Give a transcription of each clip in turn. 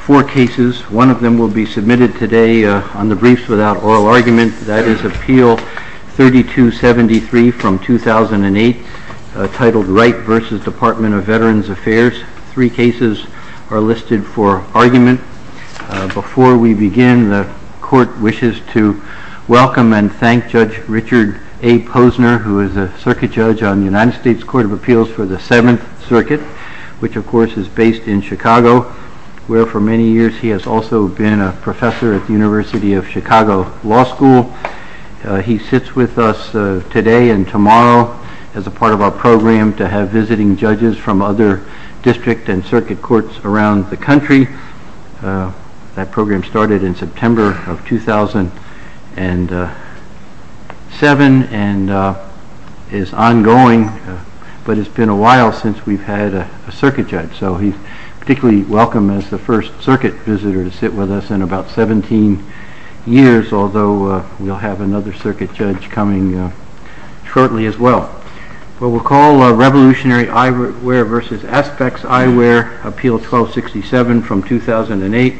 Four cases, one of them will be submitted today on the Briefs Without Oral Argument, that is Appeal 3273 from 2008, titled Wright v. Department of Veterans Affairs. Three cases are listed for argument. Before we begin, the Court wishes to welcome and thank Judge Richard A. Posner, who is a Circuit Judge on the United States Court of Appeals for the Seventh Circuit, which of course is based in Chicago, where for many years he has also been a professor at the University of Chicago Law School. He sits with us today and tomorrow as a part of our program to have visiting judges from other district and circuit courts around the country. That program started in September of 2007 and is ongoing, but it's been a while since we've had a Circuit Judge, so he's particularly welcome as the first Circuit Visitor to sit with us in about 17 years, although we'll have another Circuit Judge coming shortly as well. We'll call Revolutionary Eyewear v. Aspex Eyewear, Appeal 1267 from 2008.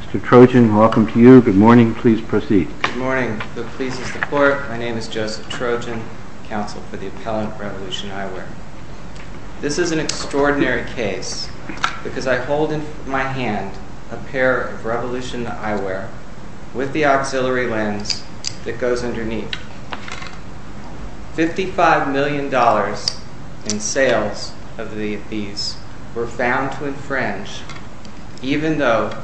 Mr. Trojan, welcome to you. Good morning. Please proceed. Good morning. It pleases the Court. My name is Joseph Trojan, Counsel for the Appellant, Revolution Eyewear. This is an extraordinary case because I hold in my hand a pair of Revolution Eyewear with the auxiliary lens that goes underneath. $55 million in sales of these were found to infringe, even though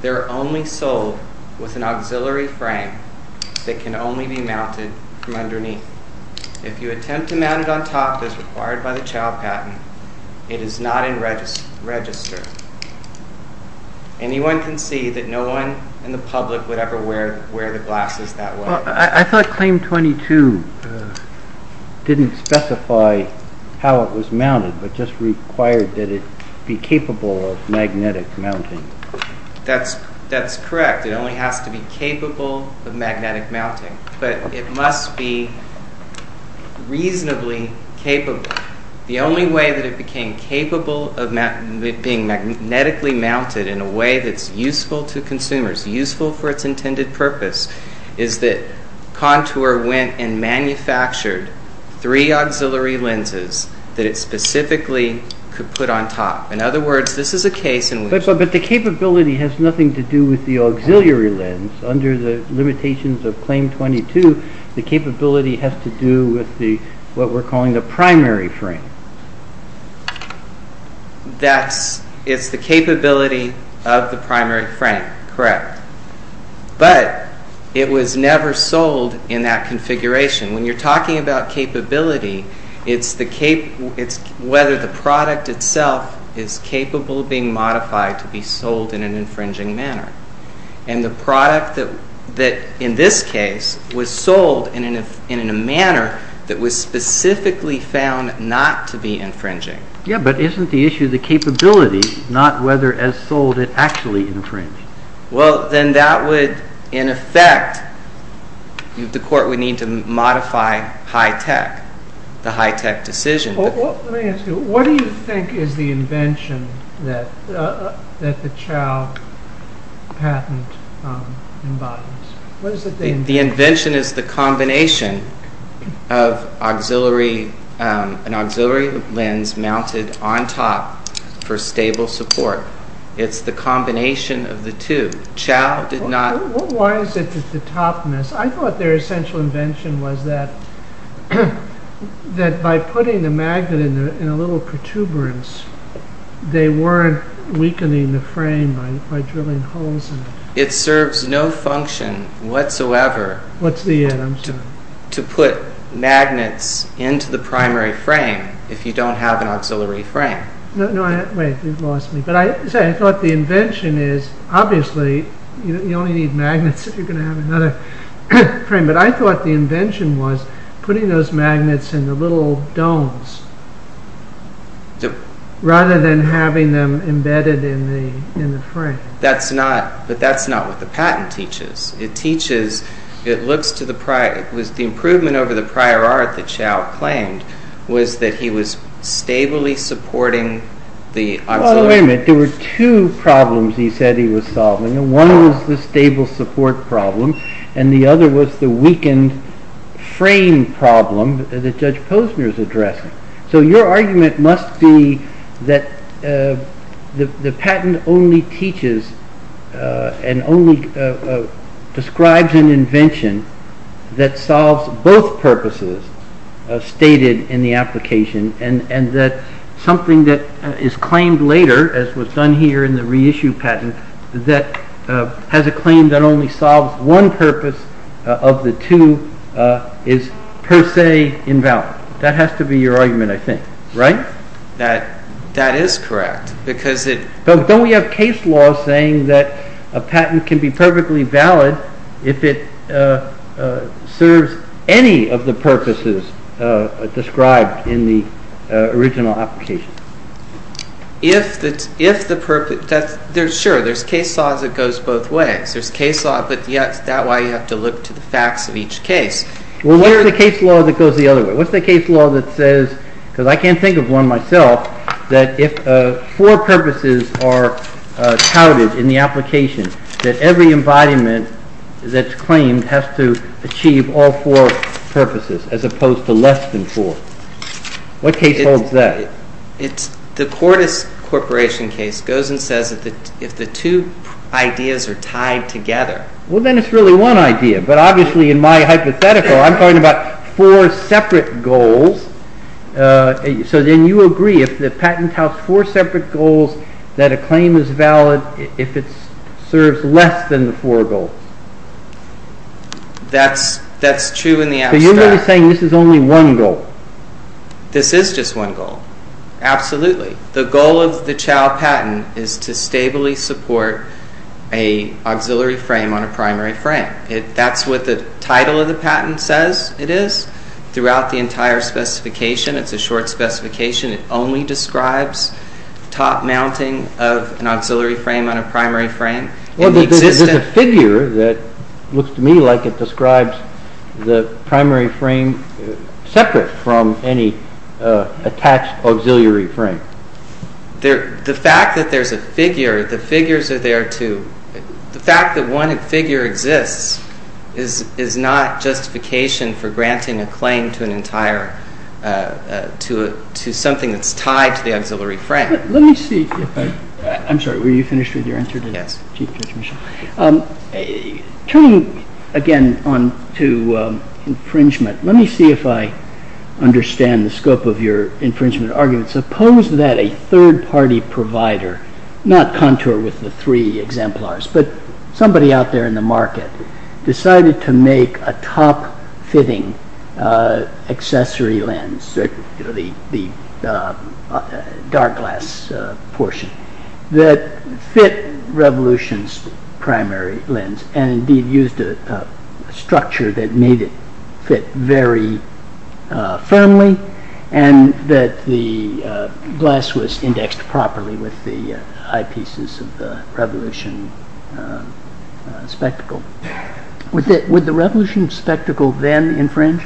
they're only sold with an auxiliary frame that can only be mounted from underneath. If you attempt to mount it on top as required by the child patent, it is not in register. Anyone can see that no one in the public would ever wear the glasses that way. I thought Claim 22 didn't specify how it was mounted, but just required that it be capable of magnetic mounting. That's correct. It only has to be capable of magnetic mounting, but it must be reasonably capable. The only way that it became capable of being magnetically mounted in a way that's useful to consumers, useful for its intended purpose, is that Contour went and manufactured three auxiliary lenses that it specifically could put on top. In other words, this is a case in which... But the capability has nothing to do with the auxiliary lens under the Claim 22. The capability has to do with what we're calling the primary frame. It's the capability of the primary frame, correct. But it was never sold in that configuration. When you're talking about capability, it's whether the product itself is capable of being modified to be sold in an infringing manner. And the product that in this case was sold in a manner that was specifically found not to be infringing. Yeah, but isn't the issue the capability, not whether as sold it actually infringed? Well, then that would, in effect, the court would need to modify high-tech, the high-tech decision. Let me ask you, what do you think is the invention that the Chow patent embodies? What is it? The invention is the combination of an auxiliary lens mounted on top for stable support. It's the combination of the two. Chow did not... Why is it that the topness... I thought their essential invention was that by putting the magnet in a little protuberance, they weren't weakening the frame by drilling holes in it. It serves no function whatsoever to put magnets into the primary frame if you don't have an auxiliary frame. Wait, you've lost me. But I thought the invention is, obviously, you only need magnets if you're going to have another frame. But I thought the invention was putting those magnets in the little domes rather than having them embedded in the frame. But that's not what the patent teaches. It teaches, it looks to the prior, it was the improvement over the prior art that Chow claimed was that he was stably supporting the auxiliary. Wait a minute, there were two problems he said he was solving. One was the weakened frame problem that Judge Posner is addressing. So your argument must be that the patent only teaches and only describes an invention that solves both purposes stated in the application and that something that is claimed later, as was done here in the reissue patent, that has a claim that only solves one purpose of the two is per se invalid. That has to be your argument, I think. Right? That is correct. Don't we have case law saying that a patent can be perfectly valid if it serves any of the purposes described in the original application? Sure, there's case law that goes both ways. There's case law, but that's why you have to look to the facts of each case. Well, what's the case law that goes the other way? What's the case law that says, because I can't think of one myself, that if four purposes are touted in the application that every embodiment that's claimed has to achieve all four purposes as opposed to less than four? What case holds that? The Cordes Corporation case goes and says that if the two ideas are tied together... Well, then it's really one idea, but obviously in my hypothetical I'm talking about four separate goals. So then you agree if the patent touts four separate goals that a claim is valid if it serves less than the four goals? That's true in the abstract. So you're really saying this is only one goal? This is just one goal. Absolutely. The goal of the CHOW patent is to stably support an auxiliary frame on a primary frame. That's what the title of the patent says it is. Throughout the entire specification, it's a short specification, it only describes top mounting of an auxiliary frame on a primary frame. Well, there's a figure that looks to me like it describes the primary frame separate from any attached auxiliary frame. The fact that one figure exists is not justification for granting a claim to something that's tied to the auxiliary frame. Let me see if I... I'm sorry, were you finished with your answer? Yes. Turning again on to infringement, let me see if I understand the scope of your infringement argument. Suppose that a third-party provider, not contour with the three exemplars, but somebody out there in the market decided to make a top-fitting accessory lens, the dark glass portion, that fit Revolution's primary lens and indeed used a structure that made it fit very firmly and that the glass was indexed properly with the eyepieces of the spectacle then infringe?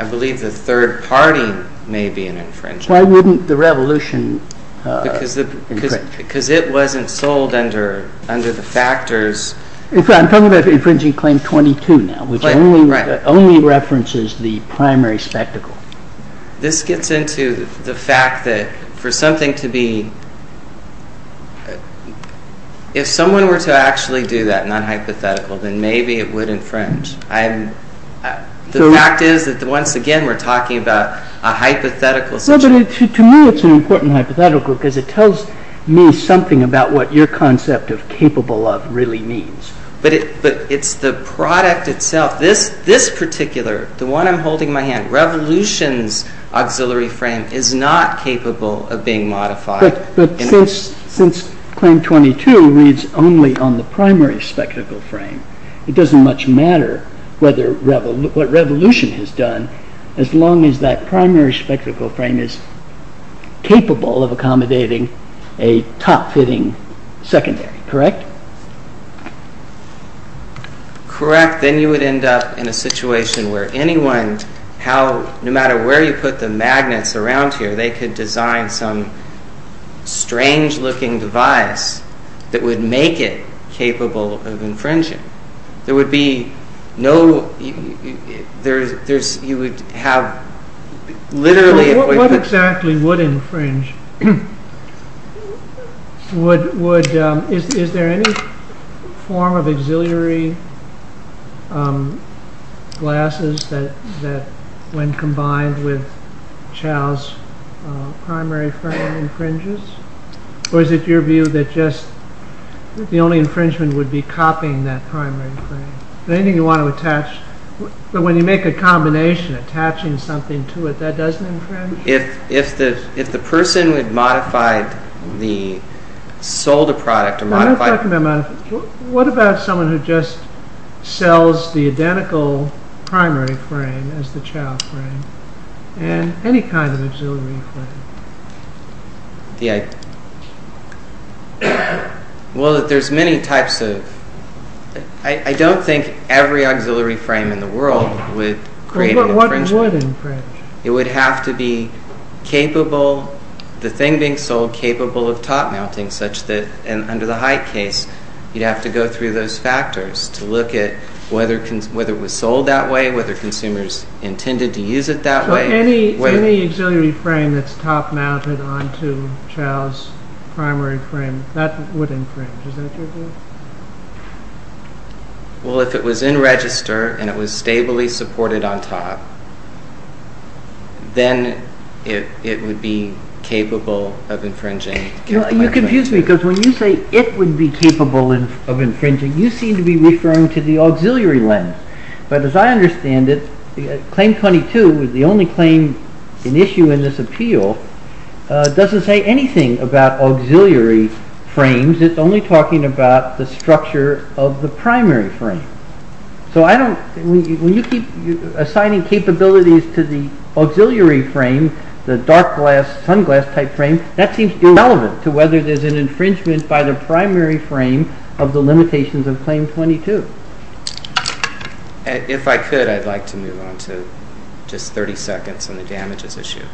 I believe the third party may be an infringer. Why wouldn't the Revolution? Because it wasn't sold under the factors. I'm talking about infringing claim 22 now, which only references the primary spectacle. This gets into the fact that for something to be, if someone were to actually do that, non-hypothetical, then maybe it would infringe. The fact is that once again we're talking about a hypothetical situation. To me it's an important hypothetical because it tells me something about what your concept of capable of really means. But it's the product itself, this particular, the one I'm holding my hand, Revolution's auxiliary frame is not capable of being modified. But since claim 22 reads only on the primary spectacle frame, it doesn't much matter what Revolution has done as long as that primary spectacle frame is capable of accommodating a top-fitting secondary, correct? Correct. Then you would end up in a situation where anyone, no matter where you put the magnets around here, they could design some strange looking device that would make it capable of infringing. There would be no, you would have literally... What exactly would infringe? Is there any form of auxiliary glasses that when combined with Chow's primary frame infringes? Or is it your view that just the only infringement would be copying that primary frame? Anything you want to attach, but when you make a combination, attaching something to it, that doesn't infringe? If the person who had modified the, sold a product... What about someone who just sells the identical primary frame as the Chow frame, and any kind of auxiliary frame? Well, there's many types of... I don't think every auxiliary frame in the world would create an infringement. What would infringe? It would have to be capable, the thing being sold capable of top-mounting such that, under the Height case, you'd have to go through those factors to look at whether it was sold that way, whether consumers intended to use it that way. Any auxiliary frame that's top-mounted onto Chow's primary frame, that would infringe, is that your view? Well, if it was in register, and it was stably supported on top, then it would be capable of infringing. You confuse me, because when you say it would be capable of infringing, you seem to be referring to the auxiliary lens. But as I understand it, Claim 22, the only claim in issue in this appeal, doesn't say anything about auxiliary frames. It's only talking about the structure of the primary frame. When you keep assigning capabilities to the auxiliary frame, the dark-glass, sunglass-type frame, that seems irrelevant to whether there's an infringement by the primary frame of the limitations of Claim 22. If I could, I'd like to move on to just 30 seconds on the damages issue.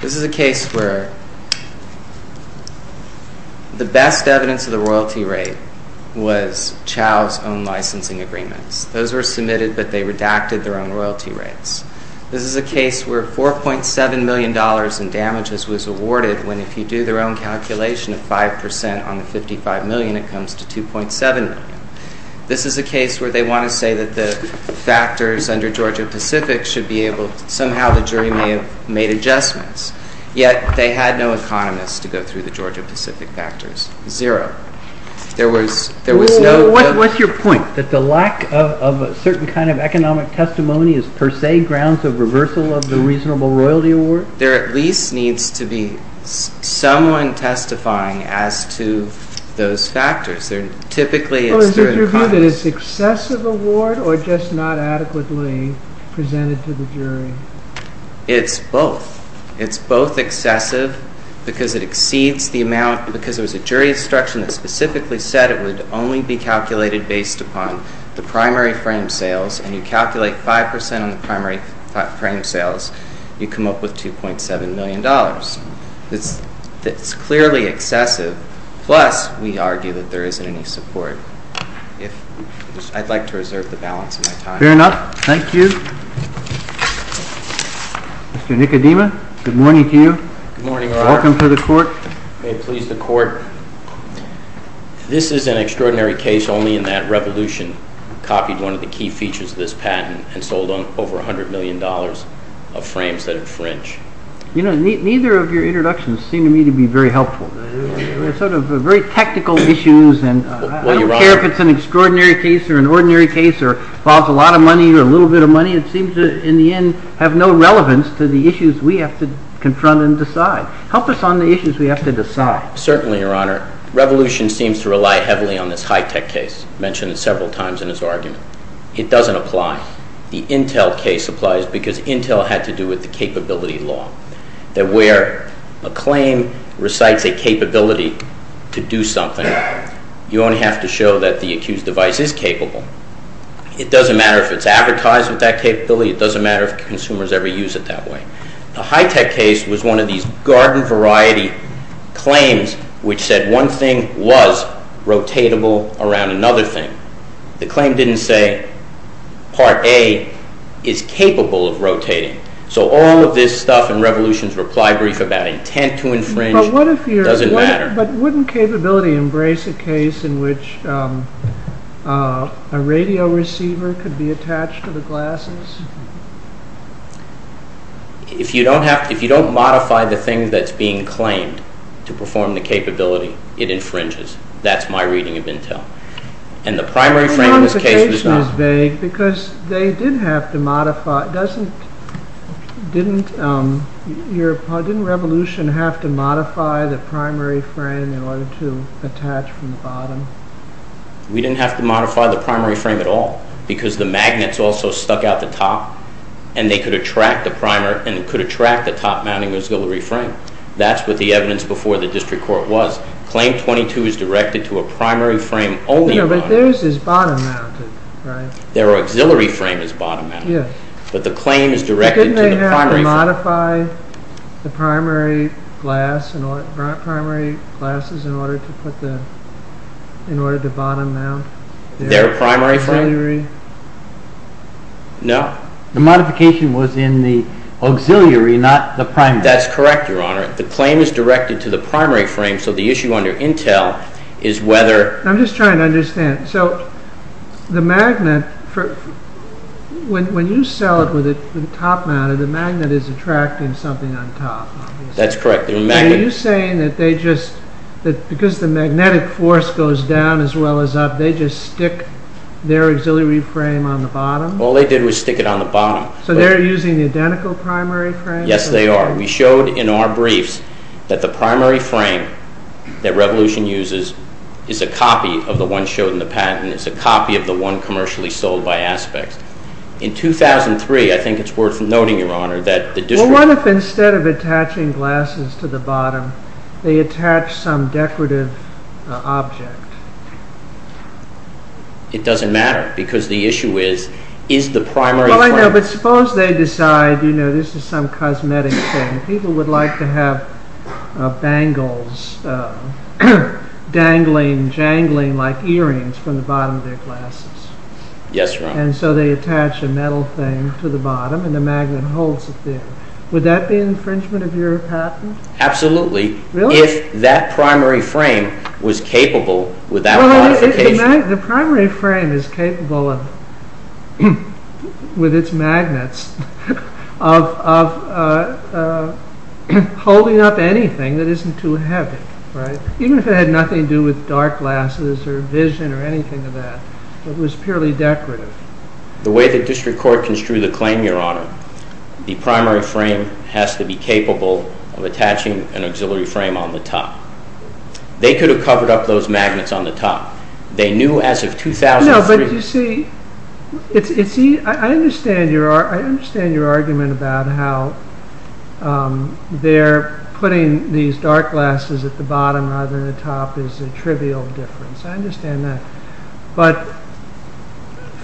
This is a case where the best evidence of the royalty rate was Chow's own licensing agreements. Those were submitted, but they redacted their own royalty rates. This is a case where $4.7 million in damages was awarded when, if you do their own calculation of 5% on the $55 million, it comes to $2.7 million. This is a case where they want to say that the factors under Georgia-Pacific should be able to, somehow, the jury may have made adjustments. Yet, they had no economists to go through the Georgia-Pacific factors. Zero. There was no... What's your point? That the lack of a certain kind of economic testimony is per se grounds of reversal of the reasonable royalty award? There at least needs to be someone testifying as to those factors. They're typically... Well, is it your view that it's excessive award or just not adequately presented to the jury? It's both. It's both excessive because it exceeds the amount... Because there was a jury instruction that specifically said it would only be calculated based upon the primary frame sales, and you calculate 5% on the primary frame sales, you come up with $2.7 million. That's clearly excessive. Plus, we argue that there isn't any support. I'd like to reserve the balance of my time. Fair enough. Thank you. Mr. Nicodema, good morning to you. Good morning, Your Honor. Welcome to the court. May it please the court. This is an extraordinary case only in that Revolution copied one of the key features of this patent and sold over $100 million of frames that infringe. Neither of your introductions seem to me to be very helpful. They're sort of very technical issues, and I don't care if it's an extraordinary case or an ordinary case or involves a lot of money or a little bit of money. It seems to, in the end, have no relevance to the issues we have to confront and decide. Help us on the issues we have to decide. Certainly, Your Honor. Revolution seems to rely heavily on this high-tech case. I mentioned it several times in this argument. It doesn't apply. The Intel case applies because Intel had to do with the capability law, that where a claim recites a capability to do something, you only have to show that the accused device is capable. It doesn't matter if it's advertised with that capability. It doesn't matter if consumers ever use it that way. The high-tech case was one of these garden variety claims which said one thing was rotatable around another thing. The claim didn't say Part A is capable of rotating. So all of this stuff in Revolution's reply brief about intent to infringe doesn't matter. But wouldn't capability embrace a case in which a radio receiver could be attached to the glasses? If you don't modify the thing that's being claimed to perform the capability, it infringes. That's my reading of Intel. And the primary frame in this case was not... The implication is vague because they did have to modify...didn't Revolution have to modify the primary frame in order to attach from the bottom? We didn't have to modify the primary frame at all because the magnets also stuck out the top. And they could attract the top-mounting auxiliary frame. That's what the evidence before the district court was. Claim 22 is directed to a primary frame only. No, but theirs is bottom-mounted, right? Their auxiliary frame is bottom-mounted. Yes. But the claim is directed to the primary frame. But didn't they have to modify the primary glasses in order to bottom-mount their auxiliary? Their primary frame? Their auxiliary? No. The modification was in the auxiliary, not the primary. That's correct, Your Honor. The claim is directed to the primary frame, so the issue under Intel is whether... I'm just trying to understand. So, the magnet...when you sell it with the top-mounted, the magnet is attracting something on top, obviously. That's correct. Are you saying that they just...because the magnetic force goes down as well as up, they just stick their auxiliary frame on the bottom? All they did was stick it on the bottom. So, they're using the identical primary frame? Yes, they are. We showed in our briefs that the primary frame that Revolution uses is a copy of the one shown in the patent. It's a copy of the one commercially sold by Aspects. In 2003, I think it's worth noting, Your Honor, that the district... What if instead of attaching glasses to the bottom, they attach some decorative object? It doesn't matter, because the issue is, is the primary frame... Well, I know, but suppose they decide, you know, this is some cosmetic thing. People would like to have bangles, dangling, jangling like earrings from the bottom of their glasses. Yes, Your Honor. And so, they attach a metal thing to the bottom, and the magnet holds it there. Would that be infringement of your patent? Absolutely. Really? If that primary frame was capable without modification... The primary frame is capable of, with its magnets, of holding up anything that isn't too heavy, right? Even if it had nothing to do with dark glasses or vision or anything of that. It was purely decorative. The way the district court construed the claim, Your Honor, the primary frame has to be capable of attaching an auxiliary frame on the top. They could have covered up those magnets on the top. They knew as of 2003... No, but you see, I understand your argument about how they're putting these dark glasses at the bottom, rather than the top, is a trivial difference. I understand that. But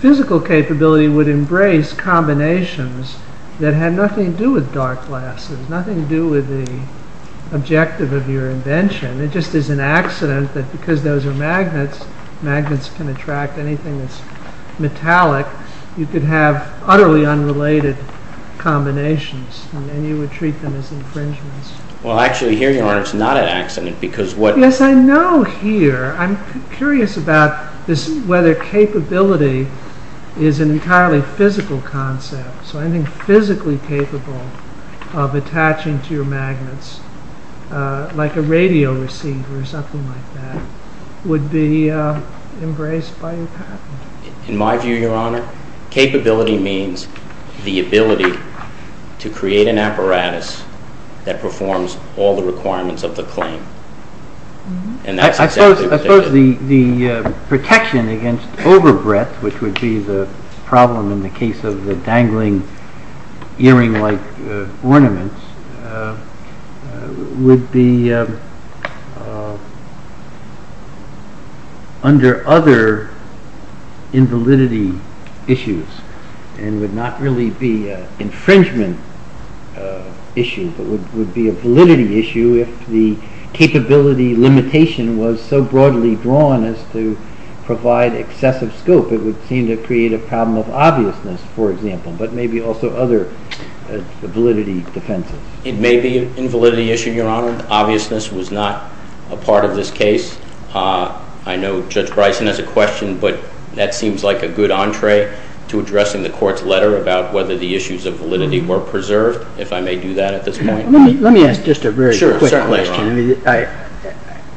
physical capability would embrace combinations that had nothing to do with dark glasses, nothing to do with the objective of your invention. It just is an accident that because those are magnets, magnets can attract anything that's metallic. You could have utterly unrelated combinations, and you would treat them as infringements. Well, actually, here, Your Honor, it's not an accident because what... Yes, I know here. I'm curious about whether capability is an entirely physical concept. So anything physically capable of attaching to your magnets, like a radio receiver or something like that, would be embraced by your patent. In my view, Your Honor, capability means the ability to create an apparatus that performs all the requirements of the claim. And that's exactly what they did. I suppose the protection against overbreadth, which would be the problem in the case of the dangling earring-like ornaments, would be under other invalidity issues and would not really be an infringement issue, but would be a validity issue if the capability limitation was so broadly drawn as to provide excessive scope. It would seem to create a problem of obviousness, for example, but maybe also other validity defenses. It may be an invalidity issue, Your Honor. Obviousness was not a part of this case. I know Judge Bryson has a question, but that seems like a good entree to addressing the Court's letter about whether the issues of validity were preserved, if I may do that at this point. Let me ask just a very quick question.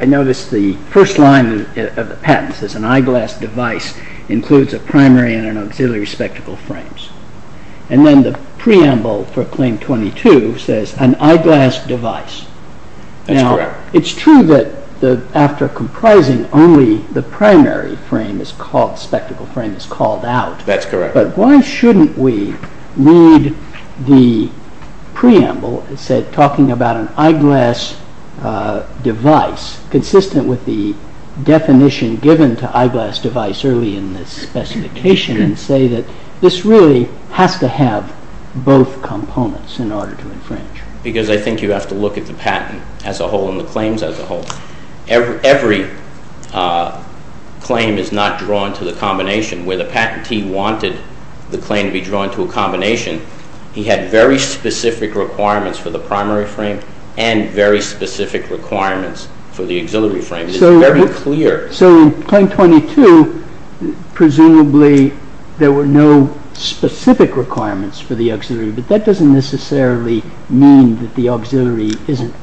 I noticed the first line of the patent says, an eyeglass device includes a primary and an auxiliary spectacle frames. And then the preamble for Claim 22 says, an eyeglass device. That's correct. It's true that after comprising, only the primary spectacle frame is called out. That's correct. But why shouldn't we read the preamble, talking about an eyeglass device, consistent with the definition given to eyeglass device early in the specification, and say that this really has to have both components in order to infringe? Because I think you have to look at the patent as a whole and the claims as a whole. Every claim is not drawn to the combination. Where the patentee wanted the claim to be drawn to a combination, he had very specific requirements for the primary frame and very specific requirements for the auxiliary frame. It's very clear. So in Claim 22, presumably, there were no specific requirements for the auxiliary, but that doesn't necessarily mean that the auxiliary isn't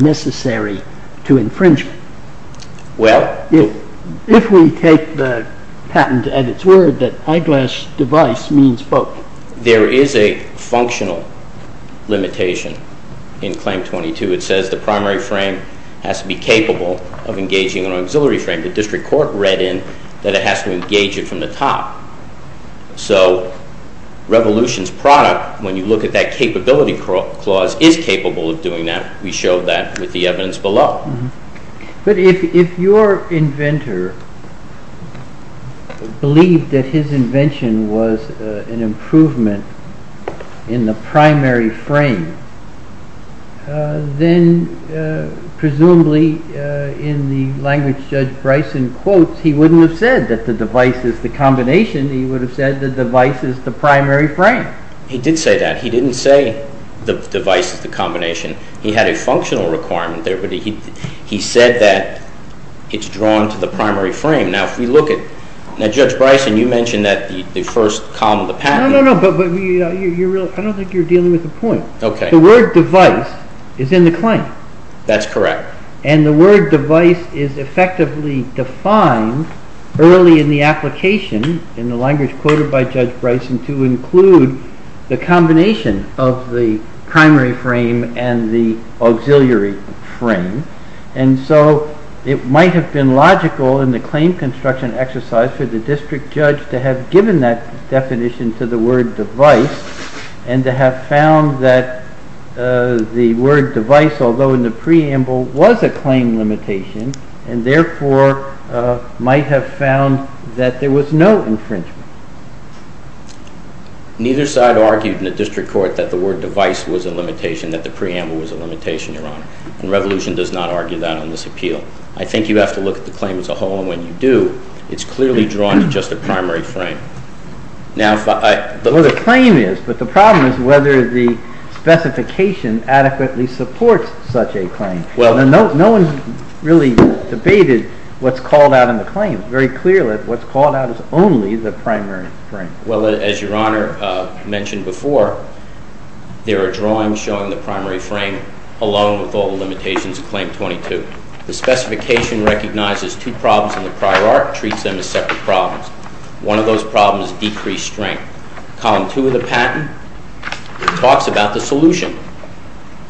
necessary to infringement. Well... If we take the patent at its word that eyeglass device means both. There is a functional limitation in Claim 22. It says the primary frame has to be capable of engaging an auxiliary frame. The district court read in that it has to engage it from the top. So Revolution's product, when you look at that capability clause, is capable of doing that. We showed that with the evidence below. But if your inventor believed that his invention was an improvement in the primary frame, then presumably in the language Judge Bryson quotes, he wouldn't have said that the device is the combination. He would have said the device is the primary frame. He did say that. He didn't say the device is the combination. He had a functional requirement there, but he said that it's drawn to the primary frame. Now, if we look at... Now, Judge Bryson, you mentioned that the first column of the patent... No, no, no, but I don't think you're dealing with a point. Okay. The word device is in the claim. That's correct. And the word device is effectively defined early in the application in the language quoted by Judge Bryson to include the combination of the primary frame and the auxiliary frame. And so it might have been logical in the claim construction exercise for the district judge to have given that definition to the word device and to have found that the word device, although in the preamble was a claim limitation, and therefore might have found that there was no infringement. Neither side argued in the district court that the word device was a limitation, that the preamble was a limitation, Your Honor, and Revolution does not argue that on this appeal. I think you have to look at the claim as a whole, and when you do, it's clearly drawn to just a primary frame. Now, if I... Well, the claim is, but the problem is whether the specification adequately supports such a claim. Well, no one really debated what's called out in the claim. Very clearly, what's called out is only the primary frame. Well, as Your Honor mentioned before, there are drawings showing the primary frame alone with all the limitations of Claim 22. The specification recognizes two problems in the prior art, treats them as separate problems. One of those problems is decreased strength. Column two of the patent talks about the solution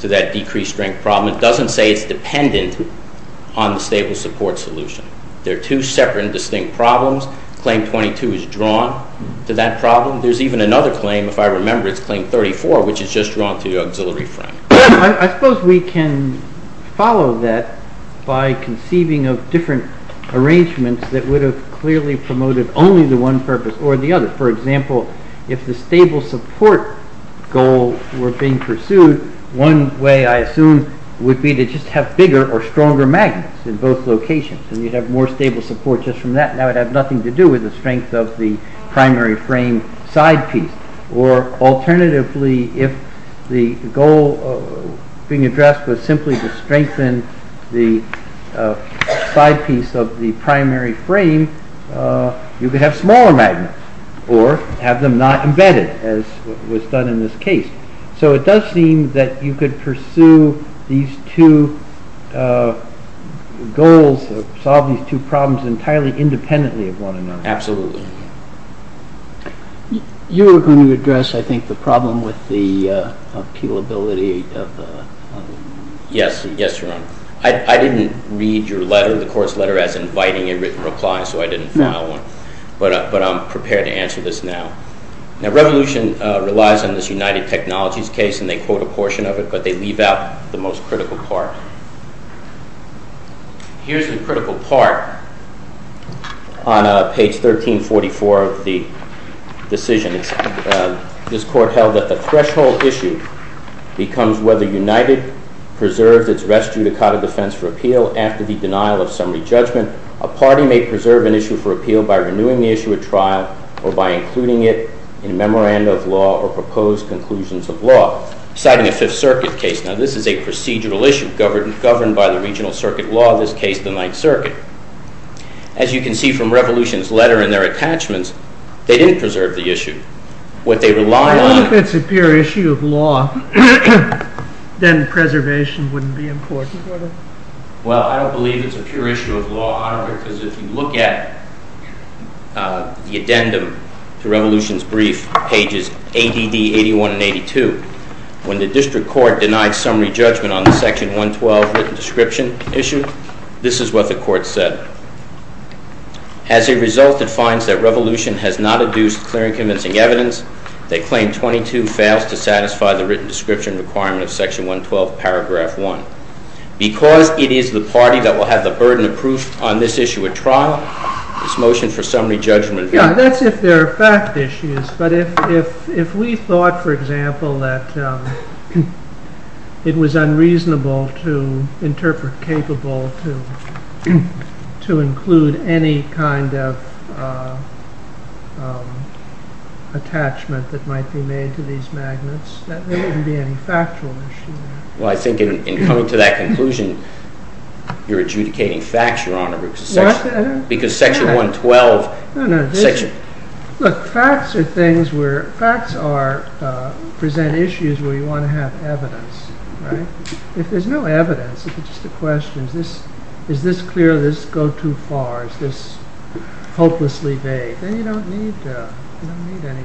to that decreased strength problem. It doesn't say it's dependent on the stable support solution. They're two separate and distinct problems. Claim 22 is drawn to that problem. There's even another claim, if I remember, it's Claim 34, which is just drawn to the auxiliary frame. I suppose we can follow that by conceiving of different arrangements that would have clearly promoted only the one purpose or the other. For example, if the stable support goal were being pursued, one way, I assume, would be to just have bigger or stronger magnets in both locations and you'd have more stable support just from that. That would have nothing to do with the strength of the primary frame side piece. Or alternatively, if the goal being addressed was simply to strengthen the side piece of the primary frame, you could have smaller magnets or have them not embedded as was done in this case. So it does seem that you could pursue these two goals or solve these two problems entirely independently of one another. Absolutely. You were going to address, I think, the problem with the appealability of the... Yes. Yes, Your Honor. I didn't read your letter, the court's letter, as inviting a written reply, so I didn't file one. But I'm prepared to answer this now. Now, Revolution relies on this United Technologies case and they quote a portion of it, but they leave out the most critical part. Here's the critical part on page 1344 of the decision. This court held that the threshold issue becomes whether United preserves its res judicata defense for appeal after the denial of summary judgment. A party may preserve an issue for appeal by renewing the issue at trial or by including it in memoranda of law or proposed conclusions of law. Citing a Fifth Circuit case, now this is a procedural issue governed by the regional circuit law, in this case, the Ninth Circuit. As you can see from Revolution's letter and their attachments, they didn't preserve the issue. What they rely on... If it's a pure issue of law, then preservation wouldn't be important, would it? Well, I don't believe it's a pure issue of law, because if you look at the addendum to Revolution's brief, pages ADD 81 and 82, when the district court denied summary judgment on the section 112 written description issue, this is what the court said. As a result, it finds that Revolution has not adduced clear and convincing evidence. They claim 22 fails to satisfy the written description requirement of section 112, paragraph one. Because it is the party that will have the burden of proof on this issue at trial, this motion for summary judgment... Yeah, that's if there are fact issues, but if we thought, for example, that it was unreasonable to interpret, capable to include any kind of attachment that might be made to these magnets, that wouldn't be any factual issue. Well, I think in coming to that conclusion, you're adjudicating facts, Your Honor, because section 112... Look, facts present issues where you want to have evidence, right? If there's no evidence, if it's just a question, is this clear, does this go too far, is this hopelessly vague, then you don't need any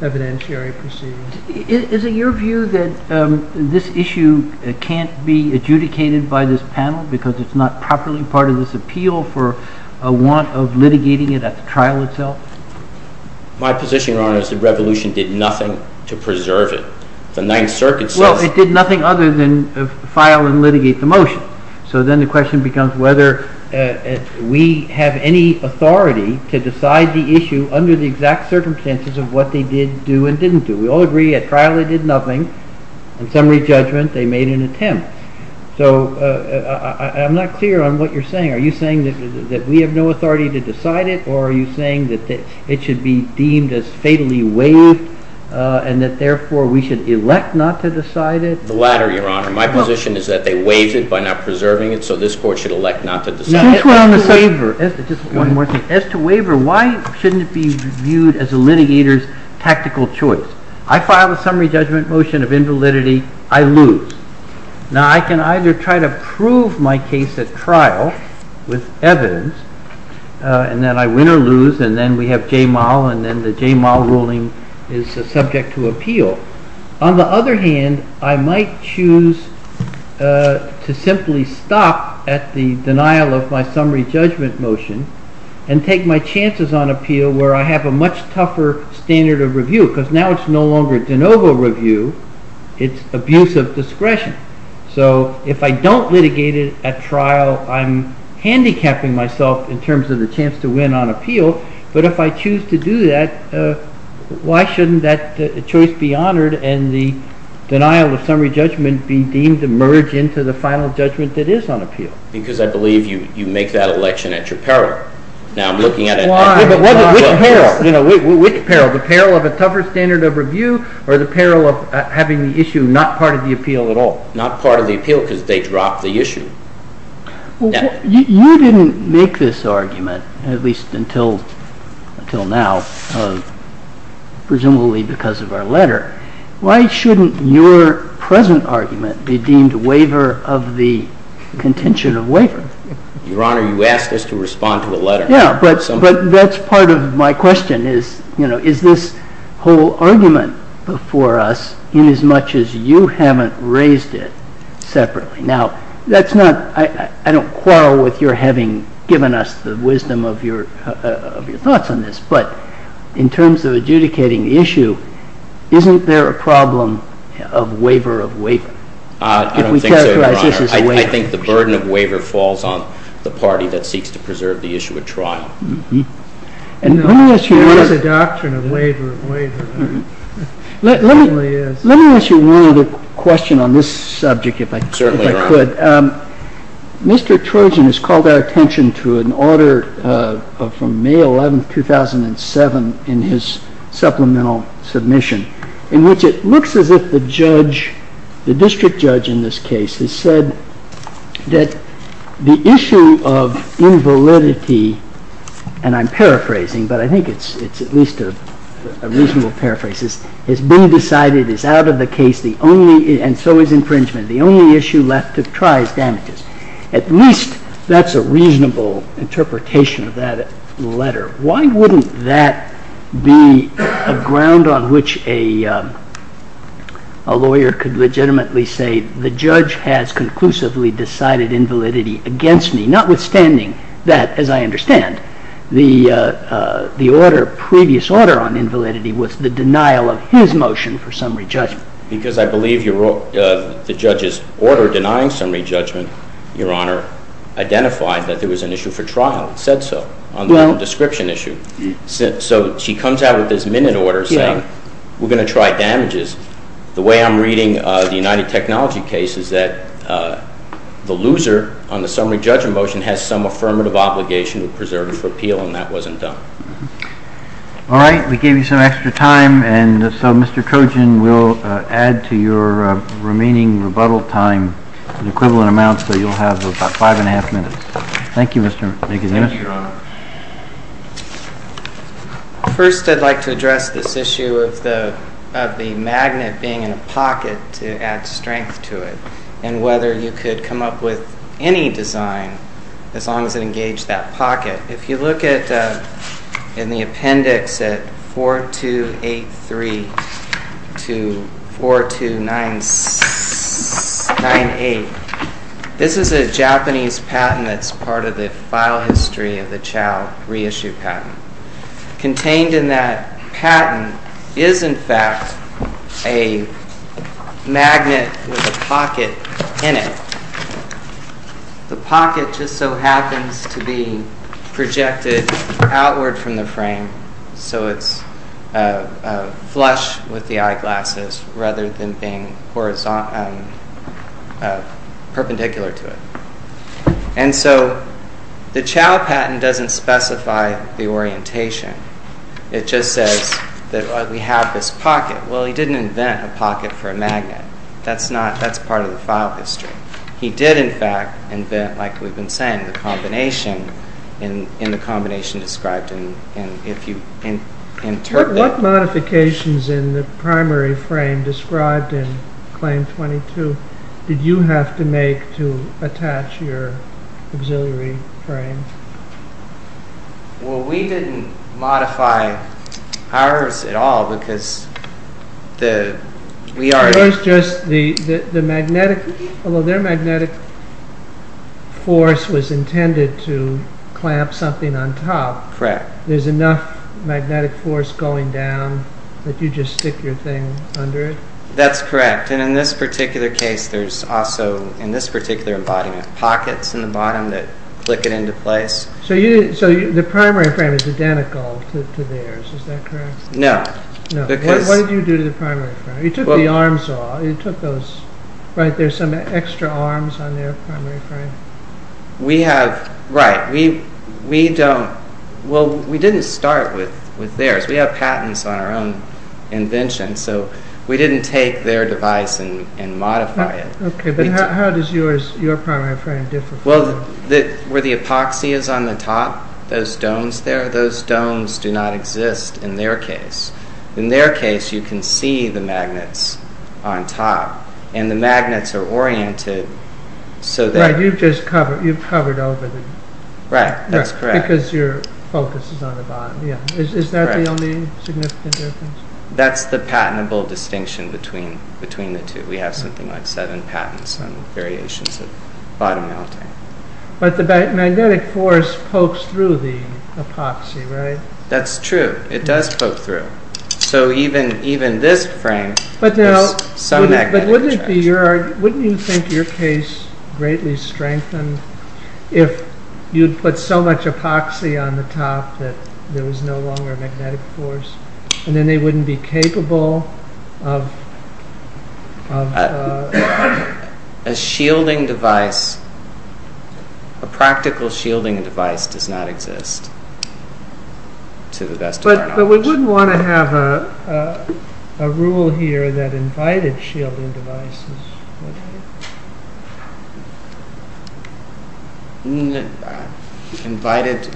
evidentiary proceedings. Is it your view that this issue can't be adjudicated by this panel because it's not properly part of this appeal for a want of litigating it at the trial itself? My position, Your Honor, is the revolution did nothing to preserve it. The Ninth Circuit says... Well, it did nothing other than file and litigate the motion. So then the question becomes whether we have any authority to decide the issue under the exact circumstances of what they did do and didn't do. We all agree at trial they did nothing. In summary judgment, they made an attempt. So I'm not clear on what you're saying. Are you saying that we have no authority to decide it or are you saying that it should be deemed as fatally waived and that therefore we should elect not to decide it? The latter, Your Honor. My position is that they waived it by not preserving it, so this court should elect not to decide it. Just one more thing. As to waiver, why shouldn't it be viewed as a litigator's tactical choice? I file a summary judgment motion of invalidity, I lose. Now, I can either try to prove my case at trial with evidence, and then I win or lose, and then we have Jamal, and then the Jamal ruling is subject to appeal. On the other hand, I might choose to simply stop at the denial of my summary judgment motion and take my chances on appeal where I have a much tougher standard of review because now it's no longer de novo review, it's abuse of discretion. So, if I don't litigate it at trial, I'm handicapping myself in terms of the chance to win on appeal, but if I choose to do that, why shouldn't that choice be honored and the denial of summary judgment be deemed to merge into the final judgment that is on appeal? Because I believe you make that election at your peril. Now, I'm looking at it. Why? Which peril? Which peril? The peril of a tougher standard of review or the peril of having the issue not part of the appeal at all? Not part of the appeal because they drop the issue. You didn't make this argument, at least until now, presumably because of our letter. Why shouldn't your present argument be deemed waiver of the contention of waiver? Your Honor, you asked us to respond to a letter. Yeah, but that's part of my question. Is this whole argument before us in as much as you haven't raised it separately? Now, that's not... I don't quarrel with your having given us the wisdom of your thoughts on this, but in terms of adjudicating the issue, isn't there a problem of waiver of waiver? I don't think so, Your Honor. I think the burden of waiver falls on the party that seeks to preserve the issue at trial. And let me ask you... There is a doctrine of waiver of waiver. Let me ask you one other question on this subject if I could. Mr. Trojan has called our attention to an order from May 11th, 2007 in his supplemental submission in which it looks as if the judge, the district judge in this case, has said that the issue of invalidity and I'm paraphrasing, but I think it's at least a reasonable paraphrase, has been decided is out of the case and so is infringement. The only issue left to try is damages. At least that's a reasonable interpretation of that letter. Why wouldn't that be a ground on which a lawyer could legitimately say the judge has conclusively decided invalidity against me, notwithstanding that, as I understand, the previous order on invalidity was the denial of his motion for summary judgment? Because I believe the judge's order denying summary judgment, Your Honor, identified that there was an issue for trial. It said so on the description issue. So she comes out with this minute order saying we're going to try damages. The way I'm reading the United Technology case is that the loser on the summary judgment motion has some affirmative obligation to preserve it for appeal and that wasn't done. All right. We gave you some extra time and so Mr. Kojin, we'll add to your remaining rebuttal time an equivalent amount so you'll have about five and a half minutes. Thank you, Mr. McAdams. Thank you, Your Honor. First, I'd like to address this issue of the magnet being in a pocket to add strength to it and whether you could come up with any design as long as it engaged that pocket. If you look at in the appendix at 4283 to 4298, this is a Japanese patent that's part of the file history of the Chao reissue patent. Contained in that patent is in fact a magnet with a pocket in it. The pocket just so happens to be projected outward from the frame so it's flush with the eyeglasses rather than being perpendicular to it. And so the Chao patent doesn't specify the orientation. It just says that we have this pocket. Well, he didn't invent a pocket for a magnet. That's part of the file history. He did, in fact, invent, like we've been saying, the combination described. What modifications in the primary frame described in Claim 22 did you have to make to attach your auxiliary frame? Well, we didn't modify ours at all because we already... It was just the magnetic... Although their magnetic force was intended to clamp something on top, there's enough magnetic force going down that you just stick your thing under it? That's correct. And in this particular case, there's also, in this particular embodiment, pockets in the bottom that click it into place. So the primary frame is identical to theirs. Is that correct? No. What did you do to the primary frame? You took the arm saw, you took those... Extra arms on their primary frame. We have... Right. We don't... Well, we didn't start with theirs. We have patents on our own invention, so we didn't take their device and modify it. Okay, but how does yours, your primary frame differ from... Well, where the epoxy is on the top, those domes there, those domes do not exist in their case. In their case, you can see the magnets on top and the magnets are oriented so that... Right, you've just covered over the... Right, that's correct. Because your focus is on the bottom, yeah. Is that the only significant difference? That's the patentable distinction between the two. We have something like seven patents on variations of bottom mounting. But the magnetic force pokes through the epoxy, right? It does poke through. So even this frame, there's some magnetic force. Wouldn't it be your... Wouldn't you think your case greatly strengthened if you'd put so much epoxy on the top that there was no longer magnetic force and then they wouldn't be capable of... A shielding device, a practical shielding device does not exist, to the best of our knowledge. But we wouldn't want to have a rule here that invited shielding devices. Invited...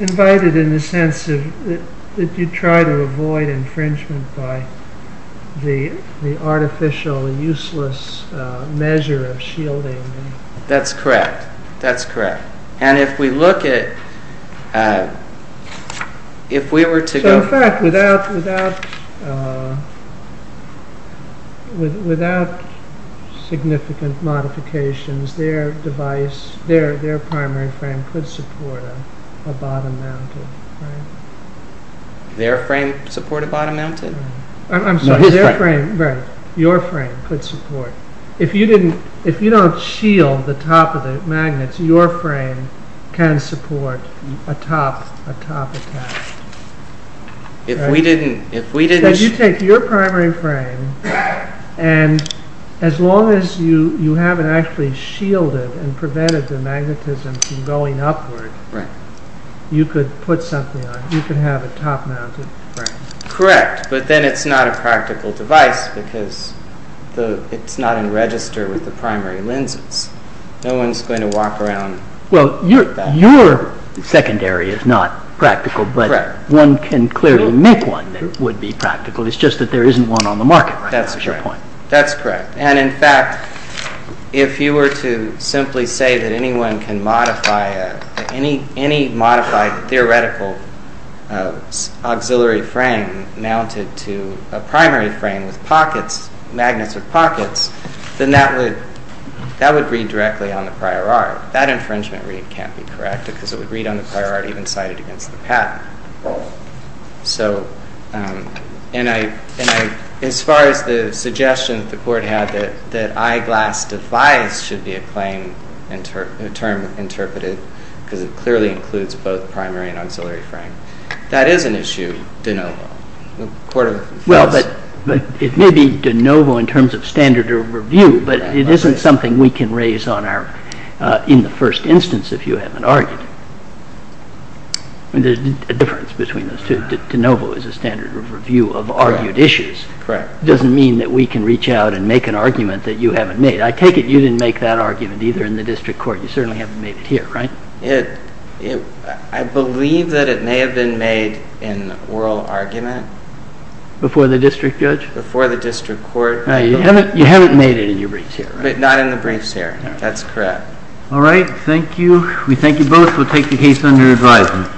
Invited in the sense that you try to avoid infringement by the artificial, useless measure of shielding. That's correct. That's correct. And if we look at... If we were to go... Without significant modifications, their device, their primary frame could support a bottom-mounted frame. Their frame support a bottom-mounted? I'm sorry, their frame. Right. Your frame could support. If you don't shield the top of the magnets, your frame can support a top attached. If we didn't... If you take your primary frame and as long as you haven't actually shielded and prevented the magnetism from going upward, you could put something on it. You could have a top-mounted frame. Correct, but then it's not a practical device because it's not in register with the primary lenses. No one's going to walk around... Well, your secondary is not practical, but one can clearly make one that would be practical. It's just that there isn't one on the market. That's correct. And in fact, if you were to simply say that anyone can modify any modified theoretical auxiliary frame mounted to a primary frame with magnets with pockets, then that would read directly on the prior art. That infringement read can't be correct because it would read on the prior art even cited against the patent. As far as the suggestion that the court had that eyeglass device should be a term interpreted because it clearly includes both primary and auxiliary frame, that is an issue de novo. Well, but it may be de novo in terms of standard of review, but it isn't something we can raise in the first instance if you haven't argued. There's a difference between those two. De novo is a standard review of argued issues. Correct. It doesn't mean that we can reach out and make an argument that you haven't made. I take it you didn't make that argument either in the district court. You certainly haven't made it here, right? I believe that it may have been made in oral argument. Before the district judge? Before the district court. No, you haven't made it in your briefs here, right? Not in the briefs here. That's correct. All right. Thank you. We thank you both. We'll take the case under advisement.